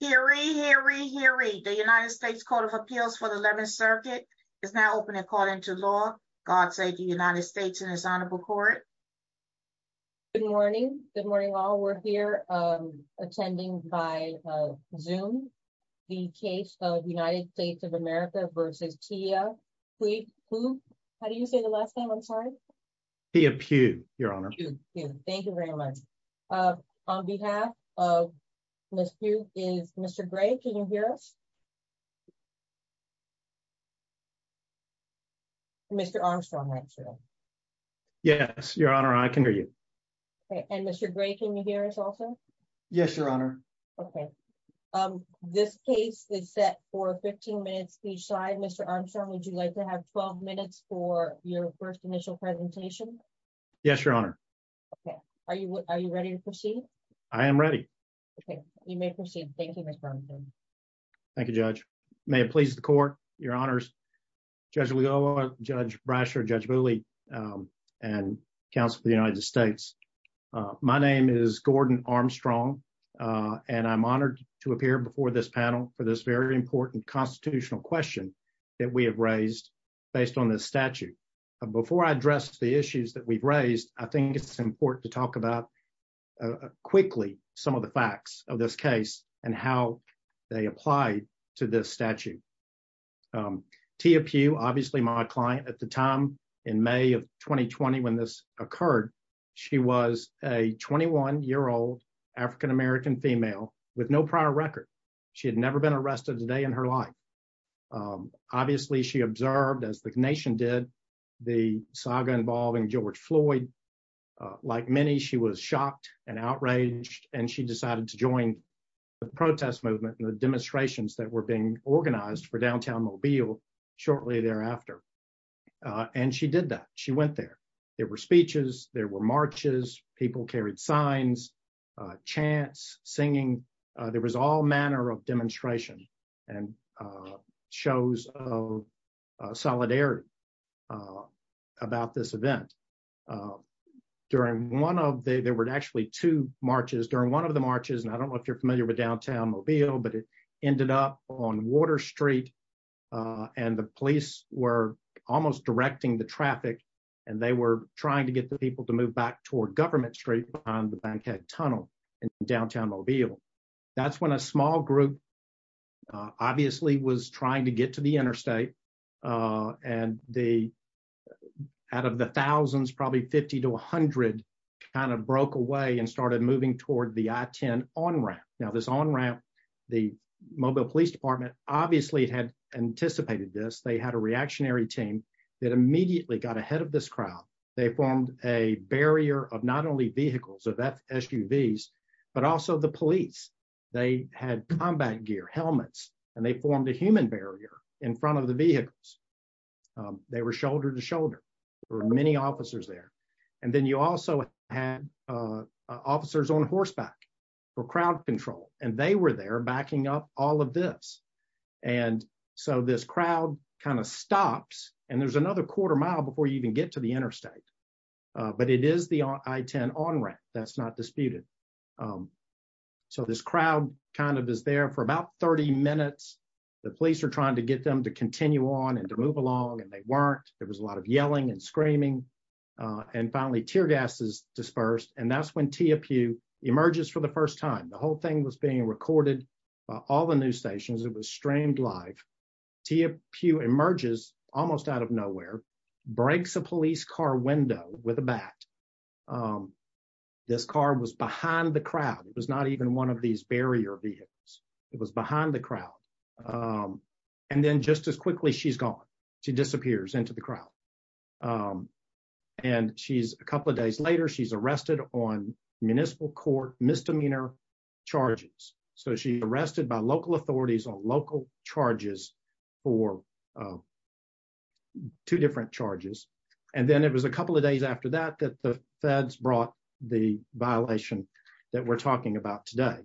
Hear ye, hear ye, hear ye. The United States Court of Appeals for the 11th Circuit is now open and called into law. God save the United States and His Honorable Court. Good morning. Good morning all. We're here attending by Zoom the case of United States of America v. Tia Pugh. How do you say the last name? I'm sorry. Tia Pugh, Your Honor. Thank you very much. On behalf of Ms. Pugh is Mr. Gray. Can you hear us? Mr. Armstrong, I'm sorry. Yes, Your Honor. I can hear you. Okay. And Mr. Gray, can you hear us also? Yes, Your Honor. Okay. This case is set for 15 minutes each side. Mr. Armstrong, would you like to have 12 minutes for your first initial presentation? Yes, Your Honor. Okay. Are you ready to proceed? I am ready. Okay. You may proceed. Thank you, Mr. Armstrong. Thank you, Judge. May it please the Court, Your Honors, Judge Leal, Judge Brasher, Judge Booley, and Counsel for the United States. My name is Gordon Armstrong, and I'm honored to appear before this panel for this very important constitutional question that we have raised based on this statute. Before I address the issues that we've raised, I think it's important to talk about quickly some of the facts of this case and how they apply to this statute. Tia Pugh, obviously my client at the time in May of 2020 when this occurred, she was a 21-year-old African American female with no prior record. She had never been arrested a day in her life. Obviously, she observed, as the nation did, the saga involving George Floyd. Like many, she was shocked and outraged, and she decided to join the protest movement and the demonstrations that were being organized for downtown Mobile shortly thereafter. And she did that. She went there. There were speeches. There were marches. People carried signs, chants, singing. There was all manner of demonstration and shows of solidarity about this event. There were actually two marches. During one of the marches, and I don't know if you're familiar with downtown Mobile, but it ended up on Water Street, and the police were almost directing the traffic, and they were trying to get the people to move back toward Government Street behind the Bankhead Tunnel in downtown Mobile. That's when a small group obviously was trying to get to the interstate, and out of the thousands, probably 50 to 100 kind of broke away and started moving toward the I-10 on-ramp. Now, this on-ramp, the Mobile Police Department obviously had anticipated this. They had a reactionary team that immediately got ahead of this crowd. They formed a barrier of not only vehicles, of SUVs, but also the police. They had combat gear, helmets, and they formed a human barrier in front of the vehicles. They were shoulder to shoulder. There were many officers there, and then you also had officers on horseback for crowd control, and they were there backing up all of this, and so this crowd kind of stops, and there's another quarter mile before you even get to the interstate, but it is the I-10 on-ramp that's not disputed, so this crowd kind of is there for about 30 minutes. The police are trying to get them to continue on and to move along, and they weren't. There was a lot of yelling and screaming, and finally tear gas is dispersed, and that's when TFU emerges for the first time. The whole thing was being recorded by all the news stations. It was streamed live. TFU emerges almost out of nowhere, breaks a police car window with a bat. This car was behind the crowd. It was not even one of these barrier vehicles. It was behind the crowd, and then just as quickly, she's gone. She disappears into the crowd, and a couple of days later, she's arrested on municipal court misdemeanor charges, so she's charged for two different charges, and then it was a couple of days after that that the feds brought the violation that we're talking about today.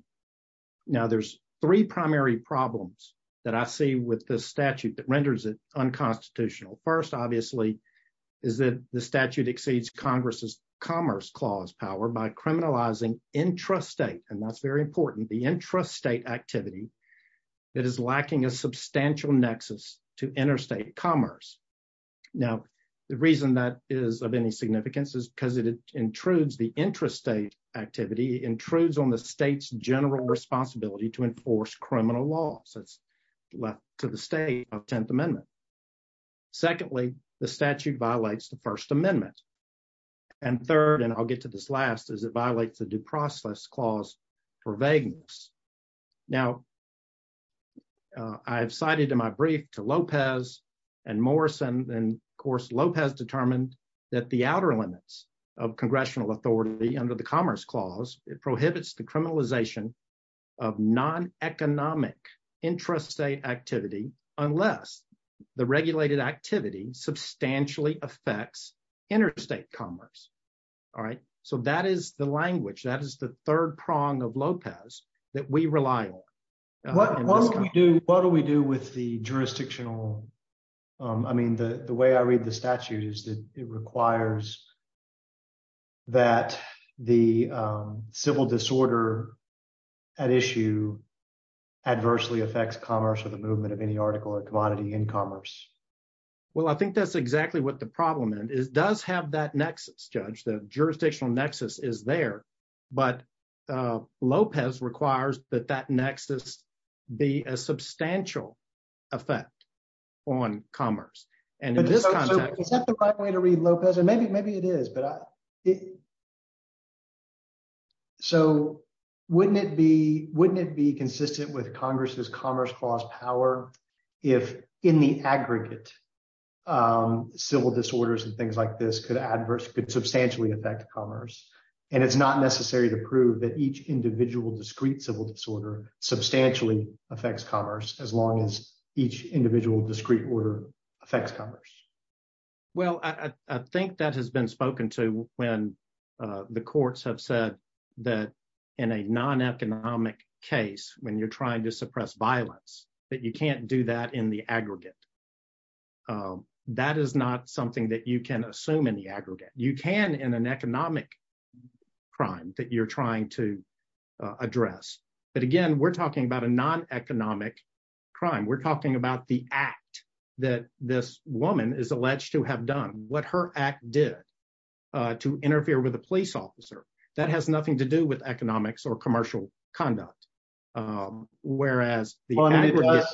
Now, there's three primary problems that I see with this statute that renders it unconstitutional. First, obviously, is that the statute exceeds Congress's Commerce Clause power by criminalizing intrastate, and that's very important, the intrastate activity that is lacking a substantial nexus to interstate commerce. Now, the reason that is of any significance is because the intrastate activity intrudes on the state's general responsibility to enforce criminal laws. It's left to the state of Tenth Amendment. Secondly, the statute violates the First Amendment, and third, and I'll get to this last, is it violates the Due Process Clause for vagueness. Now, I have cited in my brief to Lopez and Morrison, and of course, Lopez determined that the outer limits of congressional authority under the Commerce Clause, it prohibits the criminalization of non-economic intrastate activity unless the regulated activity substantially affects interstate commerce. So that is the language, that is the third prong of Lopez that we rely on. What do we do with the jurisdictional? I mean, the way I read the statute is that it requires that the civil disorder at issue adversely affects commerce or the movement of any article or commodity in commerce. Well, I think that's exactly what the problem is. It does have that nexus, Judge, the jurisdictional nexus is there, but Lopez requires that that nexus be a substantial effect on commerce. And in this context- Is that the right way to read Lopez? And maybe it is, but I... So wouldn't it be consistent with Congress's Commerce Clause power if in the aggregate civil disorders and things like this could substantially affect commerce, and it's not necessary to prove that each individual discrete civil disorder substantially affects commerce as long as each individual discrete order affects commerce? Well, I think that has been spoken to when the courts have said that in a non-economic case, when you're trying to suppress violence, that you can't do that in the aggregate. That is not something that you can assume in the aggregate. You can in an economic crime that you're trying to address. But again, we're talking about a non-economic crime. We're talking about the act that this woman is alleged to have done, what her act did to interfere with a police officer. That has nothing to do with economics or commercial conduct. Whereas the aggregate-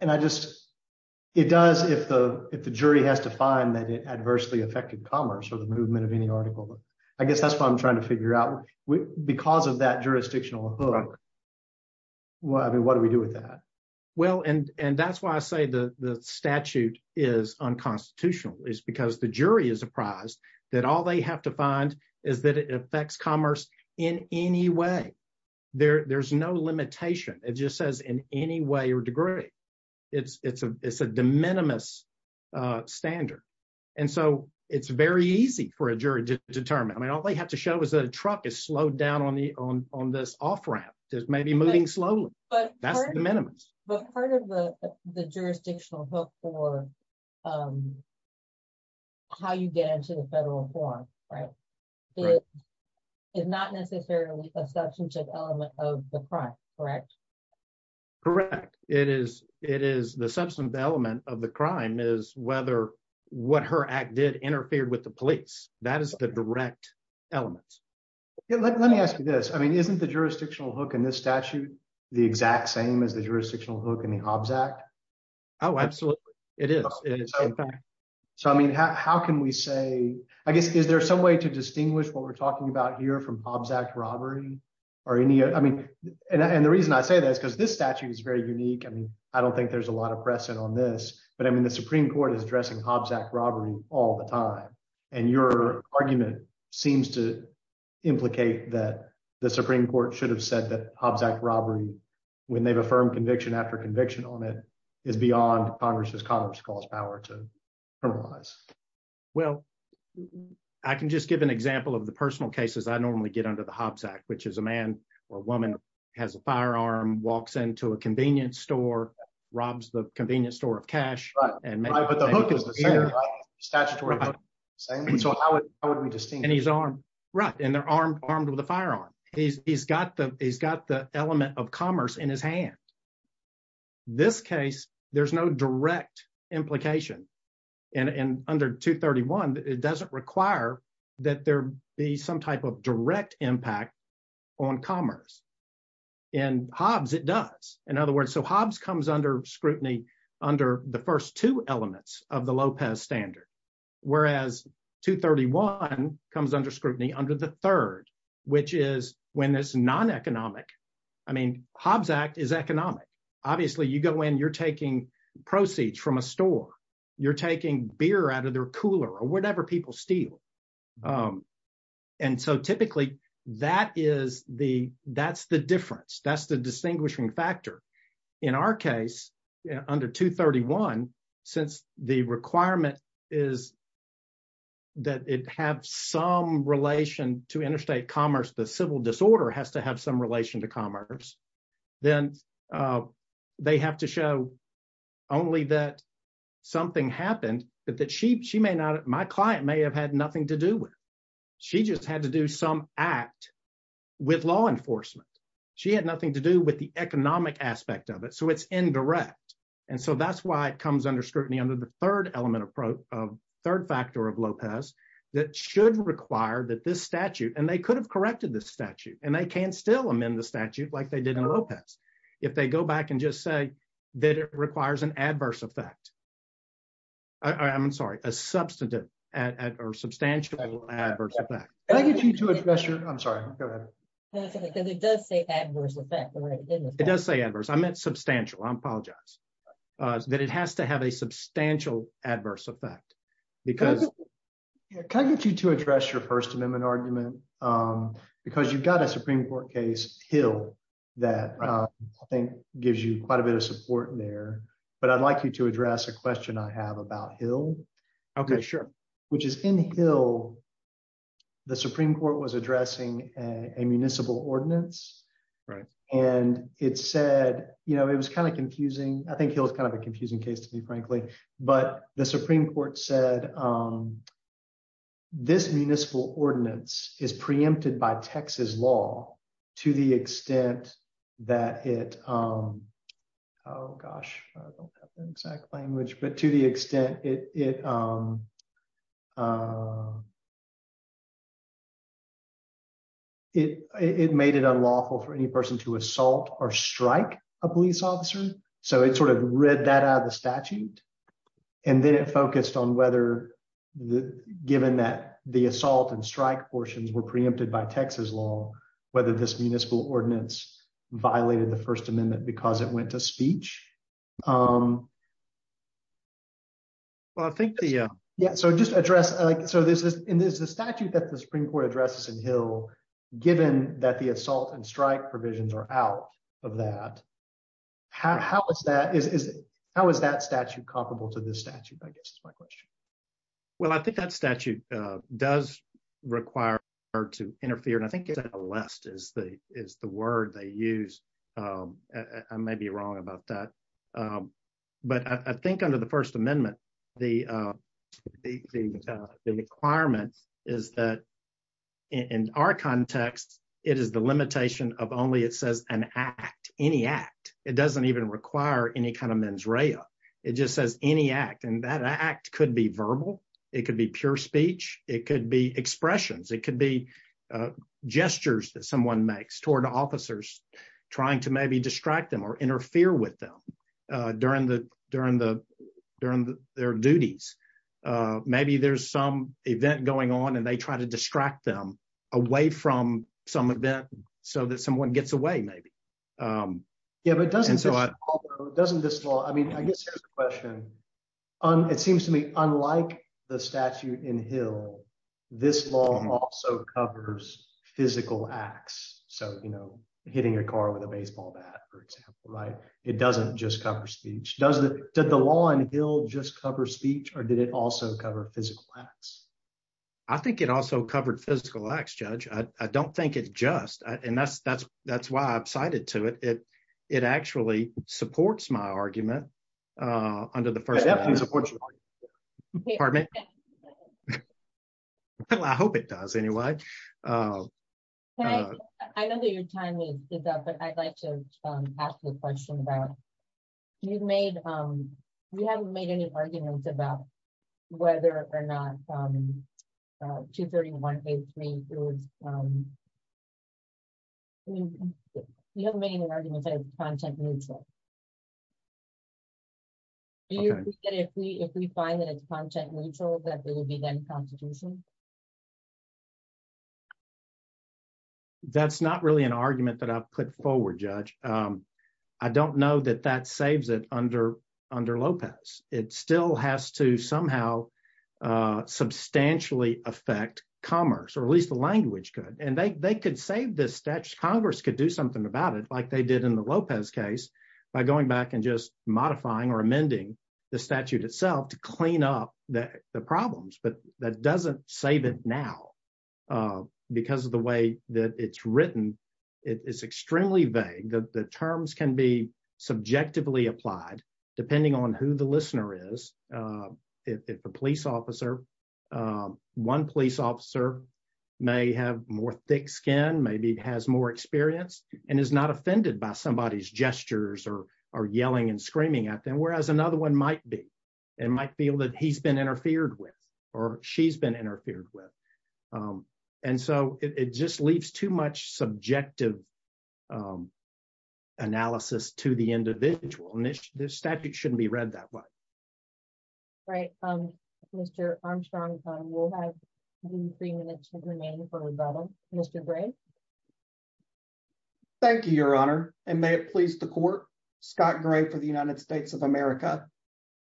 And I just... It does if the jury has to find that it adversely affected commerce or the movement of any article. I guess that's what I'm trying to figure out. Because of that jurisdictional hook, what do we do with that? Well, and that's why I say the statute is unconstitutional, is because the jury is is that it affects commerce in any way. There's no limitation. It just says in any way or degree. It's a de minimis standard. And so it's very easy for a jury to determine. I mean, all they have to show is that a truck is slowed down on this off-ramp, just maybe moving slowly. That's de minimis. But part of the jurisdictional hook for how you get into the federal forum, right, is not necessarily a substantive element of the crime, correct? Correct. It is. It is. The substantive element of the crime is whether what her act did interfered with the police. That is the direct element. Let me ask you this. I mean, isn't the jurisdictional hook in this statute the exact same as the jurisdictional hook in the Hobbs Act? Oh, absolutely. It is. So, I mean, how can we say, I guess, is there some way to distinguish what we're talking about here from Hobbs Act robbery? And the reason I say that is because this statute is very unique. I mean, I don't think there's a lot of precedent on this, but I mean, the Supreme Court is addressing Hobbs Act robbery all the time. And your argument seems to implicate that the Supreme Court should have said that Hobbs Act robbery, when they've affirmed conviction after conviction on it, is beyond Congress's cause power to criminalize. Well, I can just give an example of the personal cases I normally get under the Hobbs Act, which is a man or woman has a firearm, walks into a convenience store, robs the convenience store of cash. Right. But the hook is the same, right? Statutory hook is the same. So how would we distinguish? Right. And they're armed with a firearm. He's got the element of commerce in his hand. This case, there's no direct implication. And under 231, it doesn't require that there be some type of direct impact on commerce. In Hobbs, it does. In other words, so Hobbs comes under under the first two elements of the Lopez standard, whereas 231 comes under scrutiny under the third, which is when it's non-economic. I mean, Hobbs Act is economic. Obviously, you go in, you're taking proceeds from a store. You're taking beer out of their cooler or whatever people steal. And so typically, that's the difference. That's the distinguishing factor. In our case, under 231, since the requirement is that it have some relation to interstate commerce, the civil disorder has to have some relation to commerce. Then they have to show only that something happened that she may not, my client may have had nothing to do with. She just had to do some act with law enforcement. She had nothing to do with the economic aspect of it. So it's indirect. And so that's why it comes under scrutiny under the third element approach of third factor of Lopez that should require that this statute, and they could have corrected this statute, and they can still amend the statute like they did in Lopez. If they go back and just say that it requires an adverse effect, I'm sorry, a substantive or substantial adverse effect. Can I get you to address your, I'm sorry, go ahead. Because it does say adverse effect. It does say adverse. I meant substantial. I apologize. That it has to have a substantial adverse effect because- Can I get you to address your first amendment argument? Because you've got a Supreme Court case Hill that I think gives you quite a bit of support there. But I'd like you to address a question I have about Hill. Okay, sure. Which is in Hill, the Supreme Court was addressing a municipal ordinance. Right. And it said, it was kind of confusing. I think Hill is kind of a confusing case to me, frankly. But the Supreme Court said, this municipal ordinance is preempted by Texas law to the extent that it, oh gosh, I don't have the exact language, but to the extent it made it unlawful for any person to assault or strike a police officer. So it sort of read that out of the statute. And then it focused on whether, given that the assault and strike portions were preempted by Texas law, whether this municipal ordinance violated the first amendment because it went to speech. Well, I think the- Yeah. So just address, so there's this statute that the Supreme Court addresses in Hill, given that the assault and strike provisions are out of that. How is that statute comparable to this statute, I guess, is my question. Well, I think that statute does require her to interfere. And I think it's a list is the word they use. I may be wrong about that. But I think under the first amendment, the requirements is that in our context, it is the limitation of only, it says an act, any act. It doesn't even require any kind of mens rea. It just says any act. And that act could be verbal. It could be pure speech. It could be expressions. It could be gestures that someone makes toward officers trying to maybe distract them or interfere with them during their duties. Maybe there's some event going on and they try to distract them away from some event so that someone gets away maybe. Yeah, but doesn't this law, I mean, I guess here's the question. It seems to me, unlike the statute in Hill, this law also covers physical acts. So hitting a car with a baseball bat, for example, right? It doesn't just cover speech. Did the law in Hill just cover speech or did it also cover physical acts? I think it also covered physical acts, Judge. I don't think it's just, and that's why I've cited to it. It actually supports my argument under the first amendment. Pardon me? Well, I hope it does anyway. I know that your time is up, but I'd like to ask you a question about, you've made, we haven't made any arguments about whether or not 231A3, you haven't made any arguments that it's content neutral. If we find that it's content neutral, that will be then constitutional? That's not really an argument that I've put forward, Judge. I don't know that that saves it under Lopez. It still has to somehow substantially affect commerce, or at least the language could. And they could save this statute. Congress could do something about it like they did in the Lopez case by going back and just modifying or amending the statute itself to save it now because of the way that it's written. It's extremely vague. The terms can be subjectively applied depending on who the listener is. If a police officer, one police officer may have more thick skin, maybe has more experience and is not offended by somebody's gestures or yelling and screaming at them. Whereas another one might be, and might feel that he's been interfered with or she's been interfered with. And so it just leaves too much subjective analysis to the individual. And this statute shouldn't be read that way. Right. Mr. Armstrong, we'll have three minutes remaining for rebuttal. Mr. Gray. Thank you, Your Honor. And may it please the court. Scott Gray for the United States of America.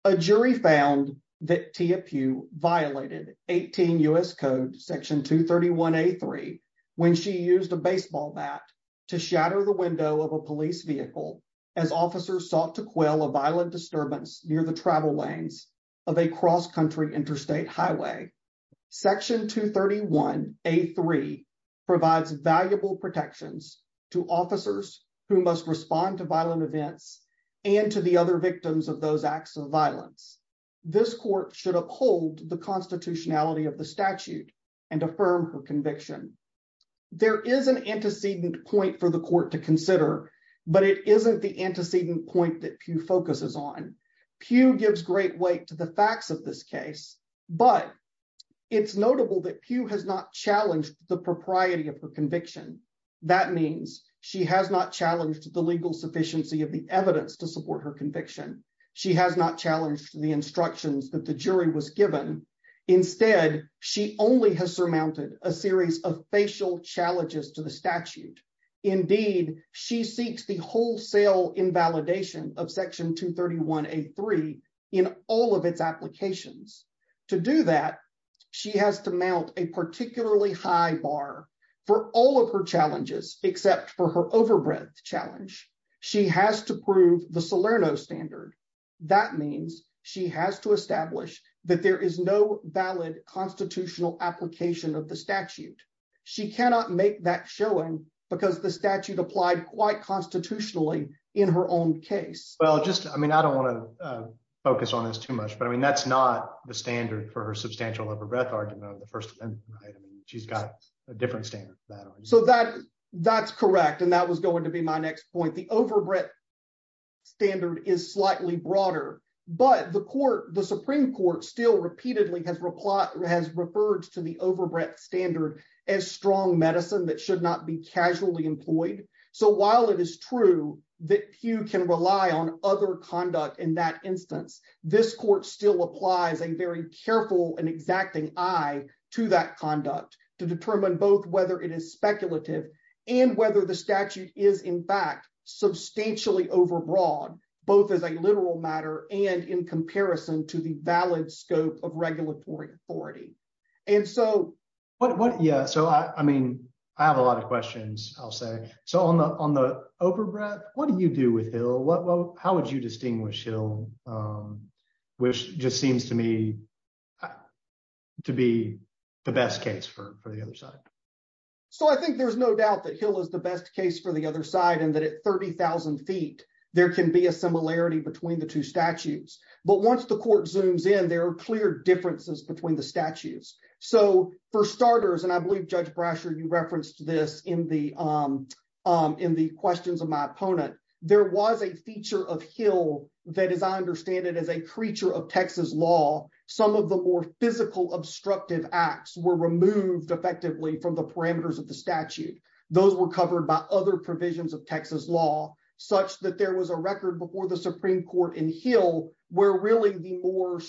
A jury found that Tia Pugh violated 18 U.S. Code Section 231A3 when she used a baseball bat to shatter the window of a police vehicle as officers sought to quell a violent disturbance near the travel lanes of a cross-country interstate highway. Section 231A3 provides valuable protections to officers who must respond to violent events and to the other victims of those acts of violence. This court should uphold the constitutionality of the statute and affirm her conviction. There is an antecedent point for the court to consider, but it isn't the antecedent point that Pugh focuses on. Pugh gives great weight to the facts of this case, but it's notable that Pugh has not challenged the propriety of her conviction. That means she has not challenged the legal sufficiency of the evidence to support her conviction. She has not challenged the instructions that the jury was given. Instead, she only has surmounted a series of facial challenges to the statute. Indeed, she seeks the wholesale invalidation of Section 231A3 in all of its applications. To do that, she has to mount a particularly high bar for all of her challenges except for her overbreadth challenge. She has to prove the Salerno standard. That means she has to establish that there is no valid constitutional application of the statute. She cannot make that showing because the statute applied quite constitutionally in her own case. Well, I don't want to focus on this too much, but that's not the standard for her substantial overbreadth argument of the first amendment. She's got a different standard. That's correct. That was going to be my next point. The overbreadth standard is slightly broader, but the Supreme Court still repeatedly has referred to the overbreadth standard as strong medicine that should not be casually employed. While it is true that Pugh can rely on other conduct in that instance, this court still applies a very to determine both whether it is speculative and whether the statute is in fact substantially overbroad, both as a literal matter and in comparison to the valid scope of regulatory authority. I have a lot of questions, I'll say. On the overbreadth, what do you do with Hill? How would you distinguish Hill, which just seems to me to be the best case for the other side? I think there's no doubt that Hill is the best case for the other side and that at 30,000 feet, there can be a similarity between the two statutes. But once the court zooms in, there are clear differences between the statutes. For starters, and I believe Judge Brasher, you referenced this in the questions of my opponent, there was a feature of Hill that, as I understand it, is a creature of Texas law. Some of the more physical obstructive acts were removed effectively from the parameters of the statute. Those were covered by other provisions of Texas law, such that there was a record before the Supreme Court in Hill where really the more,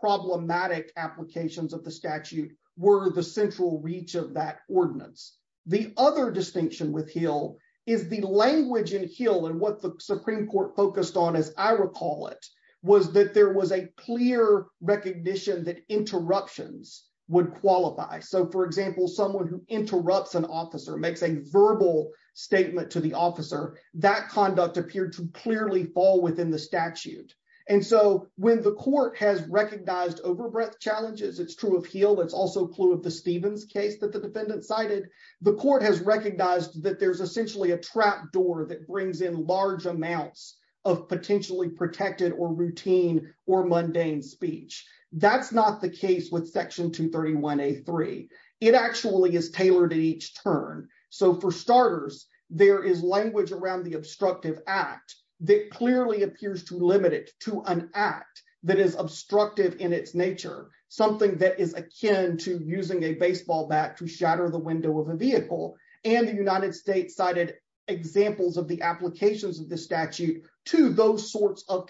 problematic applications of the statute were the central reach of that ordinance. The other distinction with Hill is the language in Hill and what the Supreme Court focused on, as I recall it, was that there was a clear recognition that interruptions would qualify. For example, someone who interrupts an officer, makes a verbal statement to the officer, that conduct appeared to clearly fall within the statute. And so when the court has recognized overbreath challenges, it's true of Hill, it's also a clue of the Stevens case that the defendant cited, the court has recognized that there's essentially a trap door that brings in large amounts of potentially protected or routine or mundane speech. That's not the case with Section 231A3. It actually is tailored to each turn. So for starters, there is language around the obstructive act that clearly appears to limit it to an act that is obstructive in its nature, something that is akin to using a baseball bat to shatter the window of a vehicle. And the United States cited examples of the applications of the statute to those sorts of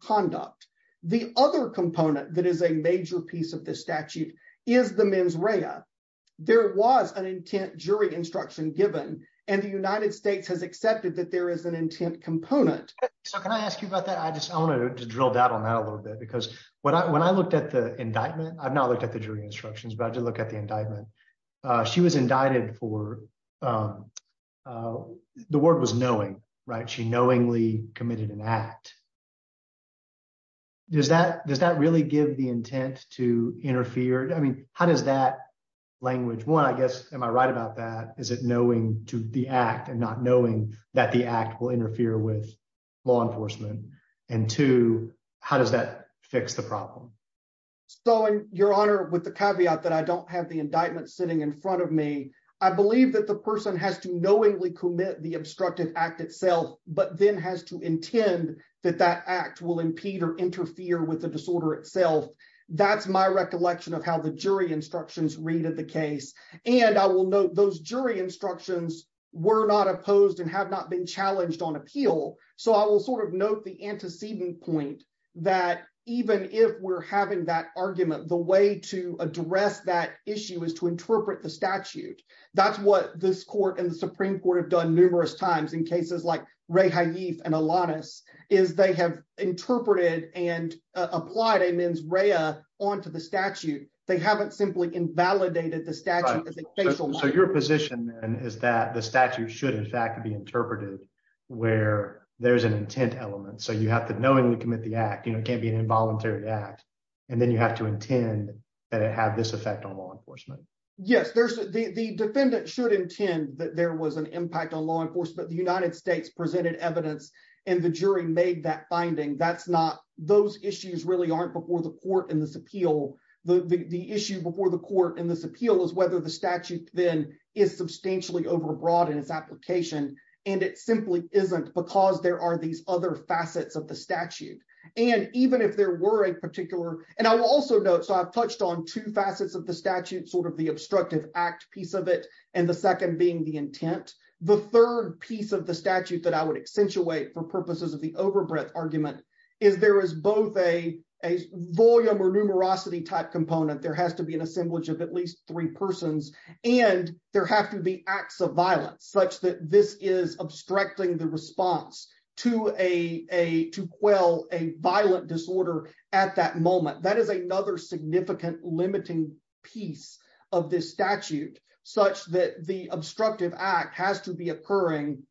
conduct. The other component that is a major piece of this statute is the mens rea. There was an intent jury instruction given and the United States has accepted that there is an intent component. So can I ask you about that? I just wanted to drill down on that a little bit because when I looked at the indictment, I've not looked at the jury instructions, but I did look at the indictment. She was indicted for, the word was knowing, right? Does that really give the intent to interfere? I mean, how does that language, one, I guess, am I right about that? Is it knowing to the act and not knowing that the act will interfere with law enforcement? And two, how does that fix the problem? So Your Honor, with the caveat that I don't have the indictment sitting in front of me, I believe that the person has to knowingly commit the obstructive act itself, but then has to intend that that act will impede or interfere with the disorder itself. That's my recollection of how the jury instructions read at the case. And I will note those jury instructions were not opposed and have not been challenged on appeal. So I will sort of note the antecedent point that even if we're having that argument, the way to address that issue is to interpret the statute. That's what this court and the Supreme Court have done numerous times in cases like Ray Haif and Alanis is they have interpreted and applied a mens rea onto the statute. They haven't simply invalidated the statute. So your position then is that the statute should, in fact, be interpreted where there's an intent element. So you have to knowingly commit the act, it can't be an involuntary act. And then you have to intend that it had this effect on law enforcement. The defendant should intend that there was an impact on law enforcement. The United States presented evidence and the jury made that finding. Those issues really aren't before the court in this appeal. The issue before the court in this appeal is whether the statute then is substantially overbroad in its application. And it simply isn't because there are these other facets of the statute. And even if there were a particular, and I will also note, I've touched on two facets of the statute, the obstructive act piece of it, and the second being the intent. The third piece of the statute that I would accentuate for purposes of the overbreadth argument is there is both a volume or numerosity type component, there has to be an assemblage of at least three persons, and there have to be acts of violence such that this is obstructing the limiting piece of this statute such that the obstructive act has to be occurring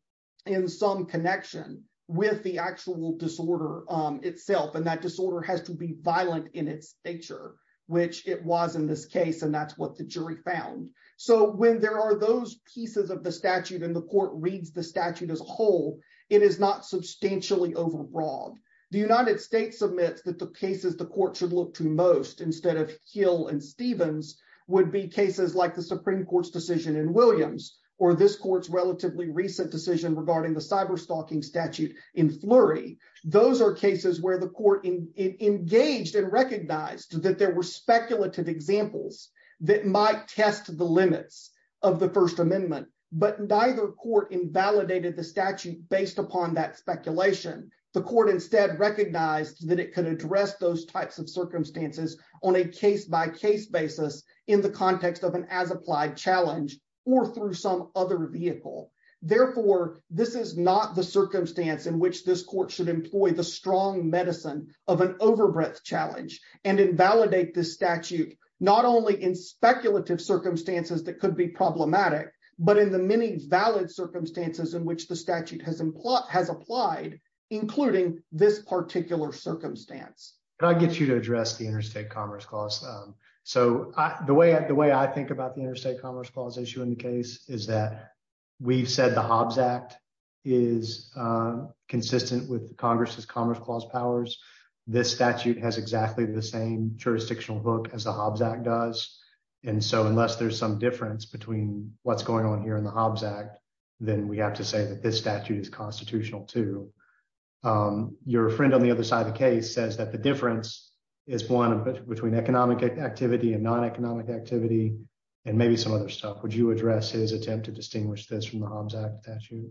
in some connection with the actual disorder itself. And that disorder has to be violent in its nature, which it was in this case, and that's what the jury found. So when there are those pieces of the statute and the court reads the statute as a whole, it is not substantially overbroad. The United States admits that the cases the court should look to most instead of Hill and Stevens would be cases like the Supreme Court's decision in Williams, or this court's relatively recent decision regarding the cyberstalking statute in Flurry. Those are cases where the court engaged and recognized that there were speculative examples that might test the limits of the First Amendment, but neither court invalidated the statute based upon that speculation. The court instead recognized that it could address those types of circumstances on a case-by-case basis in the context of an as-applied challenge or through some other vehicle. Therefore, this is not the circumstance in which this court should employ the strong medicine of an overbreadth challenge and invalidate this statute, not only in speculative circumstances that could be problematic, but in the many valid circumstances in which the statute has applied, including this particular circumstance. Can I get you to address the Interstate Commerce Clause? So the way I think about the Interstate Commerce Clause issue in the case is that we've said the Hobbs Act is consistent with Congress's Commerce Clause powers. This statute has exactly the same jurisdictional book as the Hobbs Act does. And so unless there's some difference between what's going on here in the Hobbs Act, then we have to say that this statute is constitutional too. Your friend on the other side of the case says that the difference is one between economic activity and non-economic activity and maybe some other stuff. Would you address his attempt to distinguish this from the Hobbs Act statute?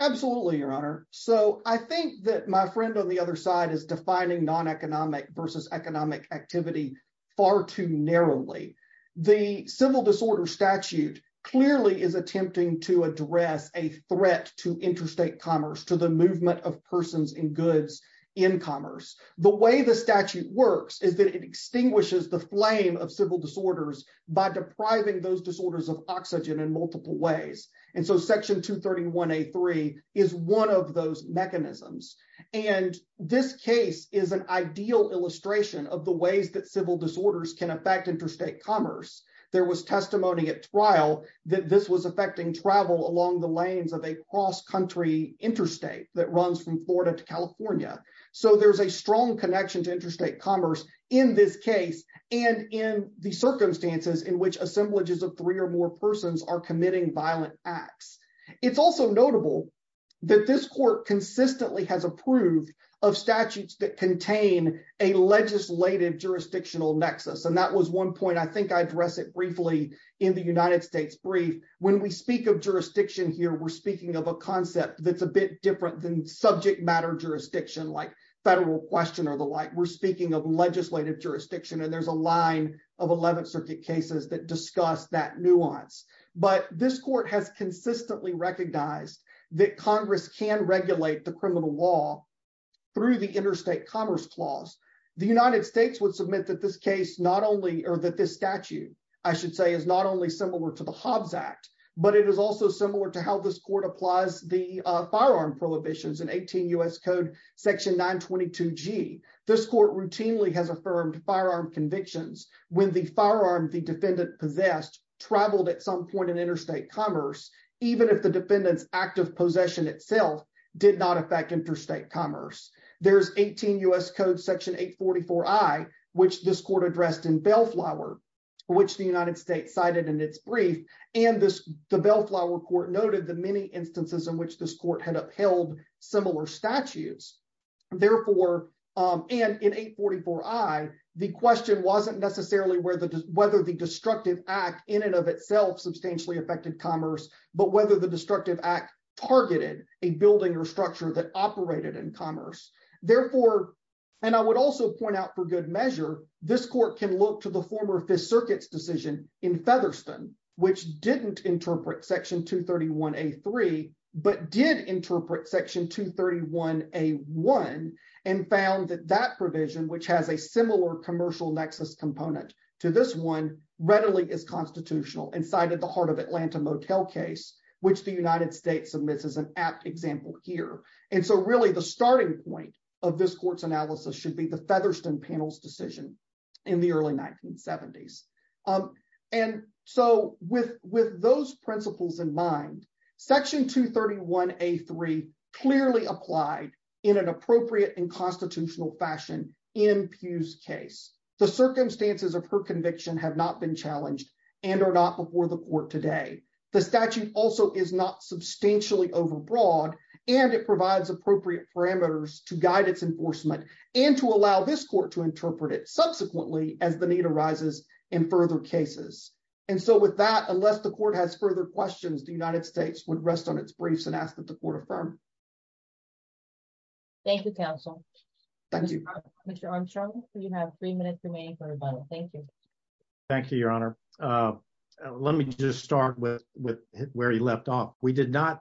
Absolutely, Your Honor. So I think that my friend on the other side is defining non-economic versus economic activity far too narrowly. The civil disorder statute clearly is attempting to address a threat to interstate commerce, to the movement of persons and goods in commerce. The way the statute works is that it extinguishes the flame of civil disorders by depriving those disorders of oxygen in multiple ways. And so Section 231A.3 is one of those mechanisms. And this case is an ideal illustration of the ways that civil disorders can affect interstate commerce. There was testimony at trial that this was affecting travel along the lanes of a cross-country interstate that runs from Florida to California. So there's a strong connection to interstate commerce in this case and in the circumstances in which assemblages of three or four persons are committing violent acts. It's also notable that this court consistently has approved of statutes that contain a legislative jurisdictional nexus. And that was one point I think I address it briefly in the United States brief. When we speak of jurisdiction here, we're speaking of a concept that's a bit different than subject matter jurisdiction like federal question or the like. We're speaking of legislative jurisdiction and there's a line of 11th that discuss that nuance. But this court has consistently recognized that Congress can regulate the criminal law through the interstate commerce clause. The United States would submit that this case not only or that this statute I should say is not only similar to the Hobbs Act, but it is also similar to how this court applies the firearm prohibitions in 18 U.S. Code Section 922G. This firearm the defendant possessed traveled at some point in interstate commerce even if the defendant's active possession itself did not affect interstate commerce. There's 18 U.S. Code Section 844I, which this court addressed in Bellflower, which the United States cited in its brief. And this the Bellflower court noted the many instances in which this court had upheld similar statutes. Therefore, and in 844I, the question wasn't necessarily whether the destructive act in and of itself substantially affected commerce, but whether the destructive act targeted a building or structure that operated in commerce. Therefore, and I would also point out for good measure, this court can look to the former Fifth Circuit's decision in Featherston, which didn't interpret Section 231A3, but did interpret Section 231A1 and found that that provision, which has a similar commercial nexus component to this one, readily is constitutional and cited the heart of Atlanta Motel case, which the United States submits as an apt example here. And so really the starting point of this court's analysis should be the Featherston panel's decision in the early 1970s. And so with those principles in mind, Section 231A3 clearly applied in an appropriate and constitutional fashion in Pew's case. The circumstances of her conviction have not been challenged and are not before the court today. The statute also is not substantially overbroad and it provides appropriate parameters to guide its enforcement and to allow this court to interpret it subsequently as the need arises in further cases. And so with that, unless the court has further questions, the United States would rest on its briefs and ask that the court affirm. Thank you, counsel. Mr. Armstrong, you have three minutes remaining for rebuttal. Thank you. Thank you, your honor. Let me just start with where he left off. We did not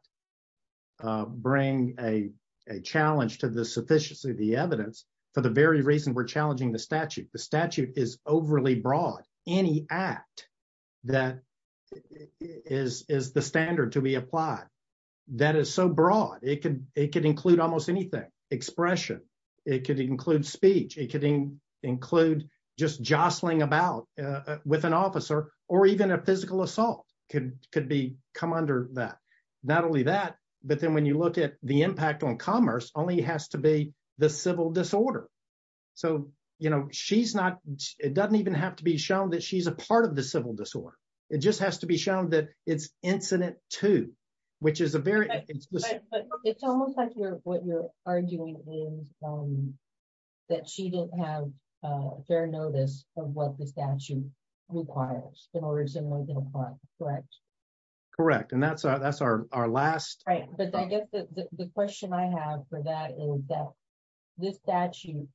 bring a challenge to the sufficiency of the evidence for the very reason we're challenging the statute. The statute is overly broad. Any act that is the standard to be applied that is so broad, it could include almost anything. Expression, it could include speech, it could include just jostling about with an officer, or even a physical assault could come under that. Not only that, but then when you look at the impact on commerce, it only has to be the civil disorder. So, you know, she's not, it doesn't even have to be shown that she's a part of the civil disorder. It just has to be shown that it's incident too, which is a very... It's almost like what you're arguing is that she didn't have fair notice of what the statute requires in order to make it a crime, correct? Correct. And that's our last... Right. But I guess the question I have for that is that this statute,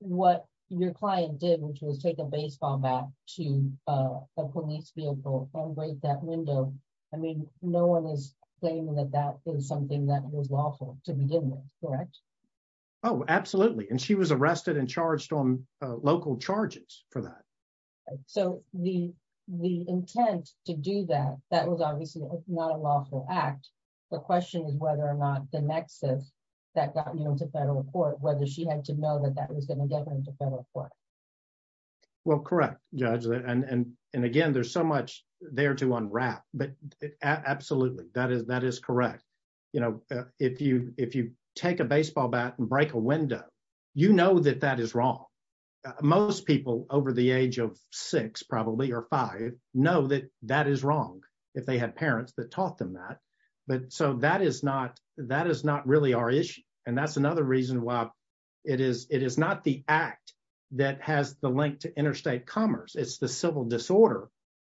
what your client did, which was take a baseball bat to a police vehicle and break that window, I mean, no one is claiming that that is something that was lawful to begin with, correct? Oh, absolutely. And she was arrested and charged on local charges for that. So the intent to do that, that was obviously not a lawful act. The question is whether or not the nexus that got you into federal court, whether she had to know that that was going to get her into federal court. Well, correct, Judge. And again, there's so much there to unwrap, but absolutely, that is correct. If you take a baseball bat and break a window, you know that that is wrong. Most people over the age of six probably, or five, know that that is wrong if they had parents that taught them that. But so that is not really our issue. And that's another reason why it is not the act that has the link to interstate commerce, it's the civil disorder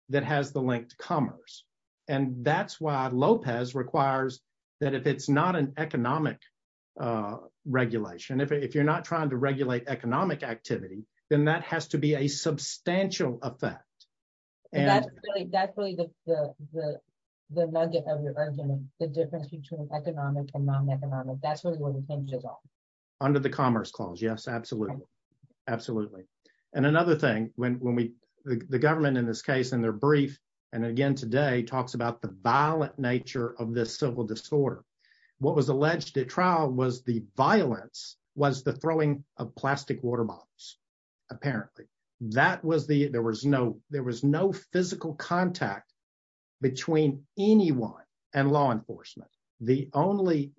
that has the link to commerce. And that's why Lopez requires that if it's not an economic regulation, if you're not trying to regulate economic activity, then that has to be a substantial effect. That's really the nugget of your argument, the difference between economic and non-economic, that's really where the hinge is on. Under the Commerce Clause, yes, absolutely. Absolutely. And another thing, the government in this case, in their brief, and again today, talks about the violent nature of this civil disorder. What was alleged at trial was the violence was the throwing of plastic water bottles, apparently. There was no physical contact between anyone and law enforcement. And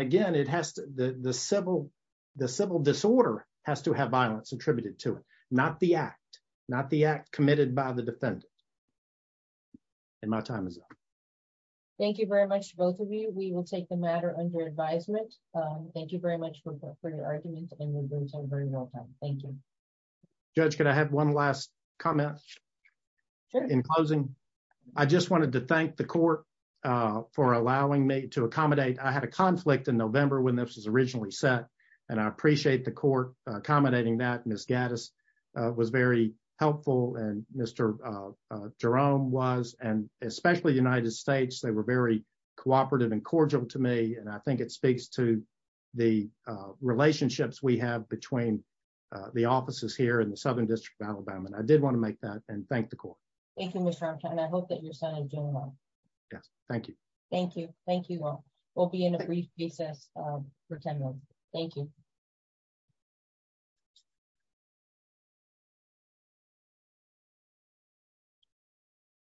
again, the civil disorder has to have violence attributed to it, not the act, not the act committed by the defendant. And my time is up. Thank you very much, both of you. We will take the matter under advisement. Thank you very much for your argument, and we'll bring it to a very real time. Thank you. Judge, could I have one last comment in closing? I just wanted to thank the court for allowing me to accommodate. I had a conflict in November when this was originally set, and I appreciate the court accommodating that. Ms. Gaddis was very helpful, and Mr. Jerome was, and especially the United States, they were very cooperative and cordial to me. And I think it speaks to the offices here in the Southern District of Alabama, and I did want to make that and thank the court. Thank you, Mr. Armstrong, and I hope that your son is doing well. Yes, thank you. Thank you. Thank you all. We'll be in a brief recess for 10 minutes. Thank you.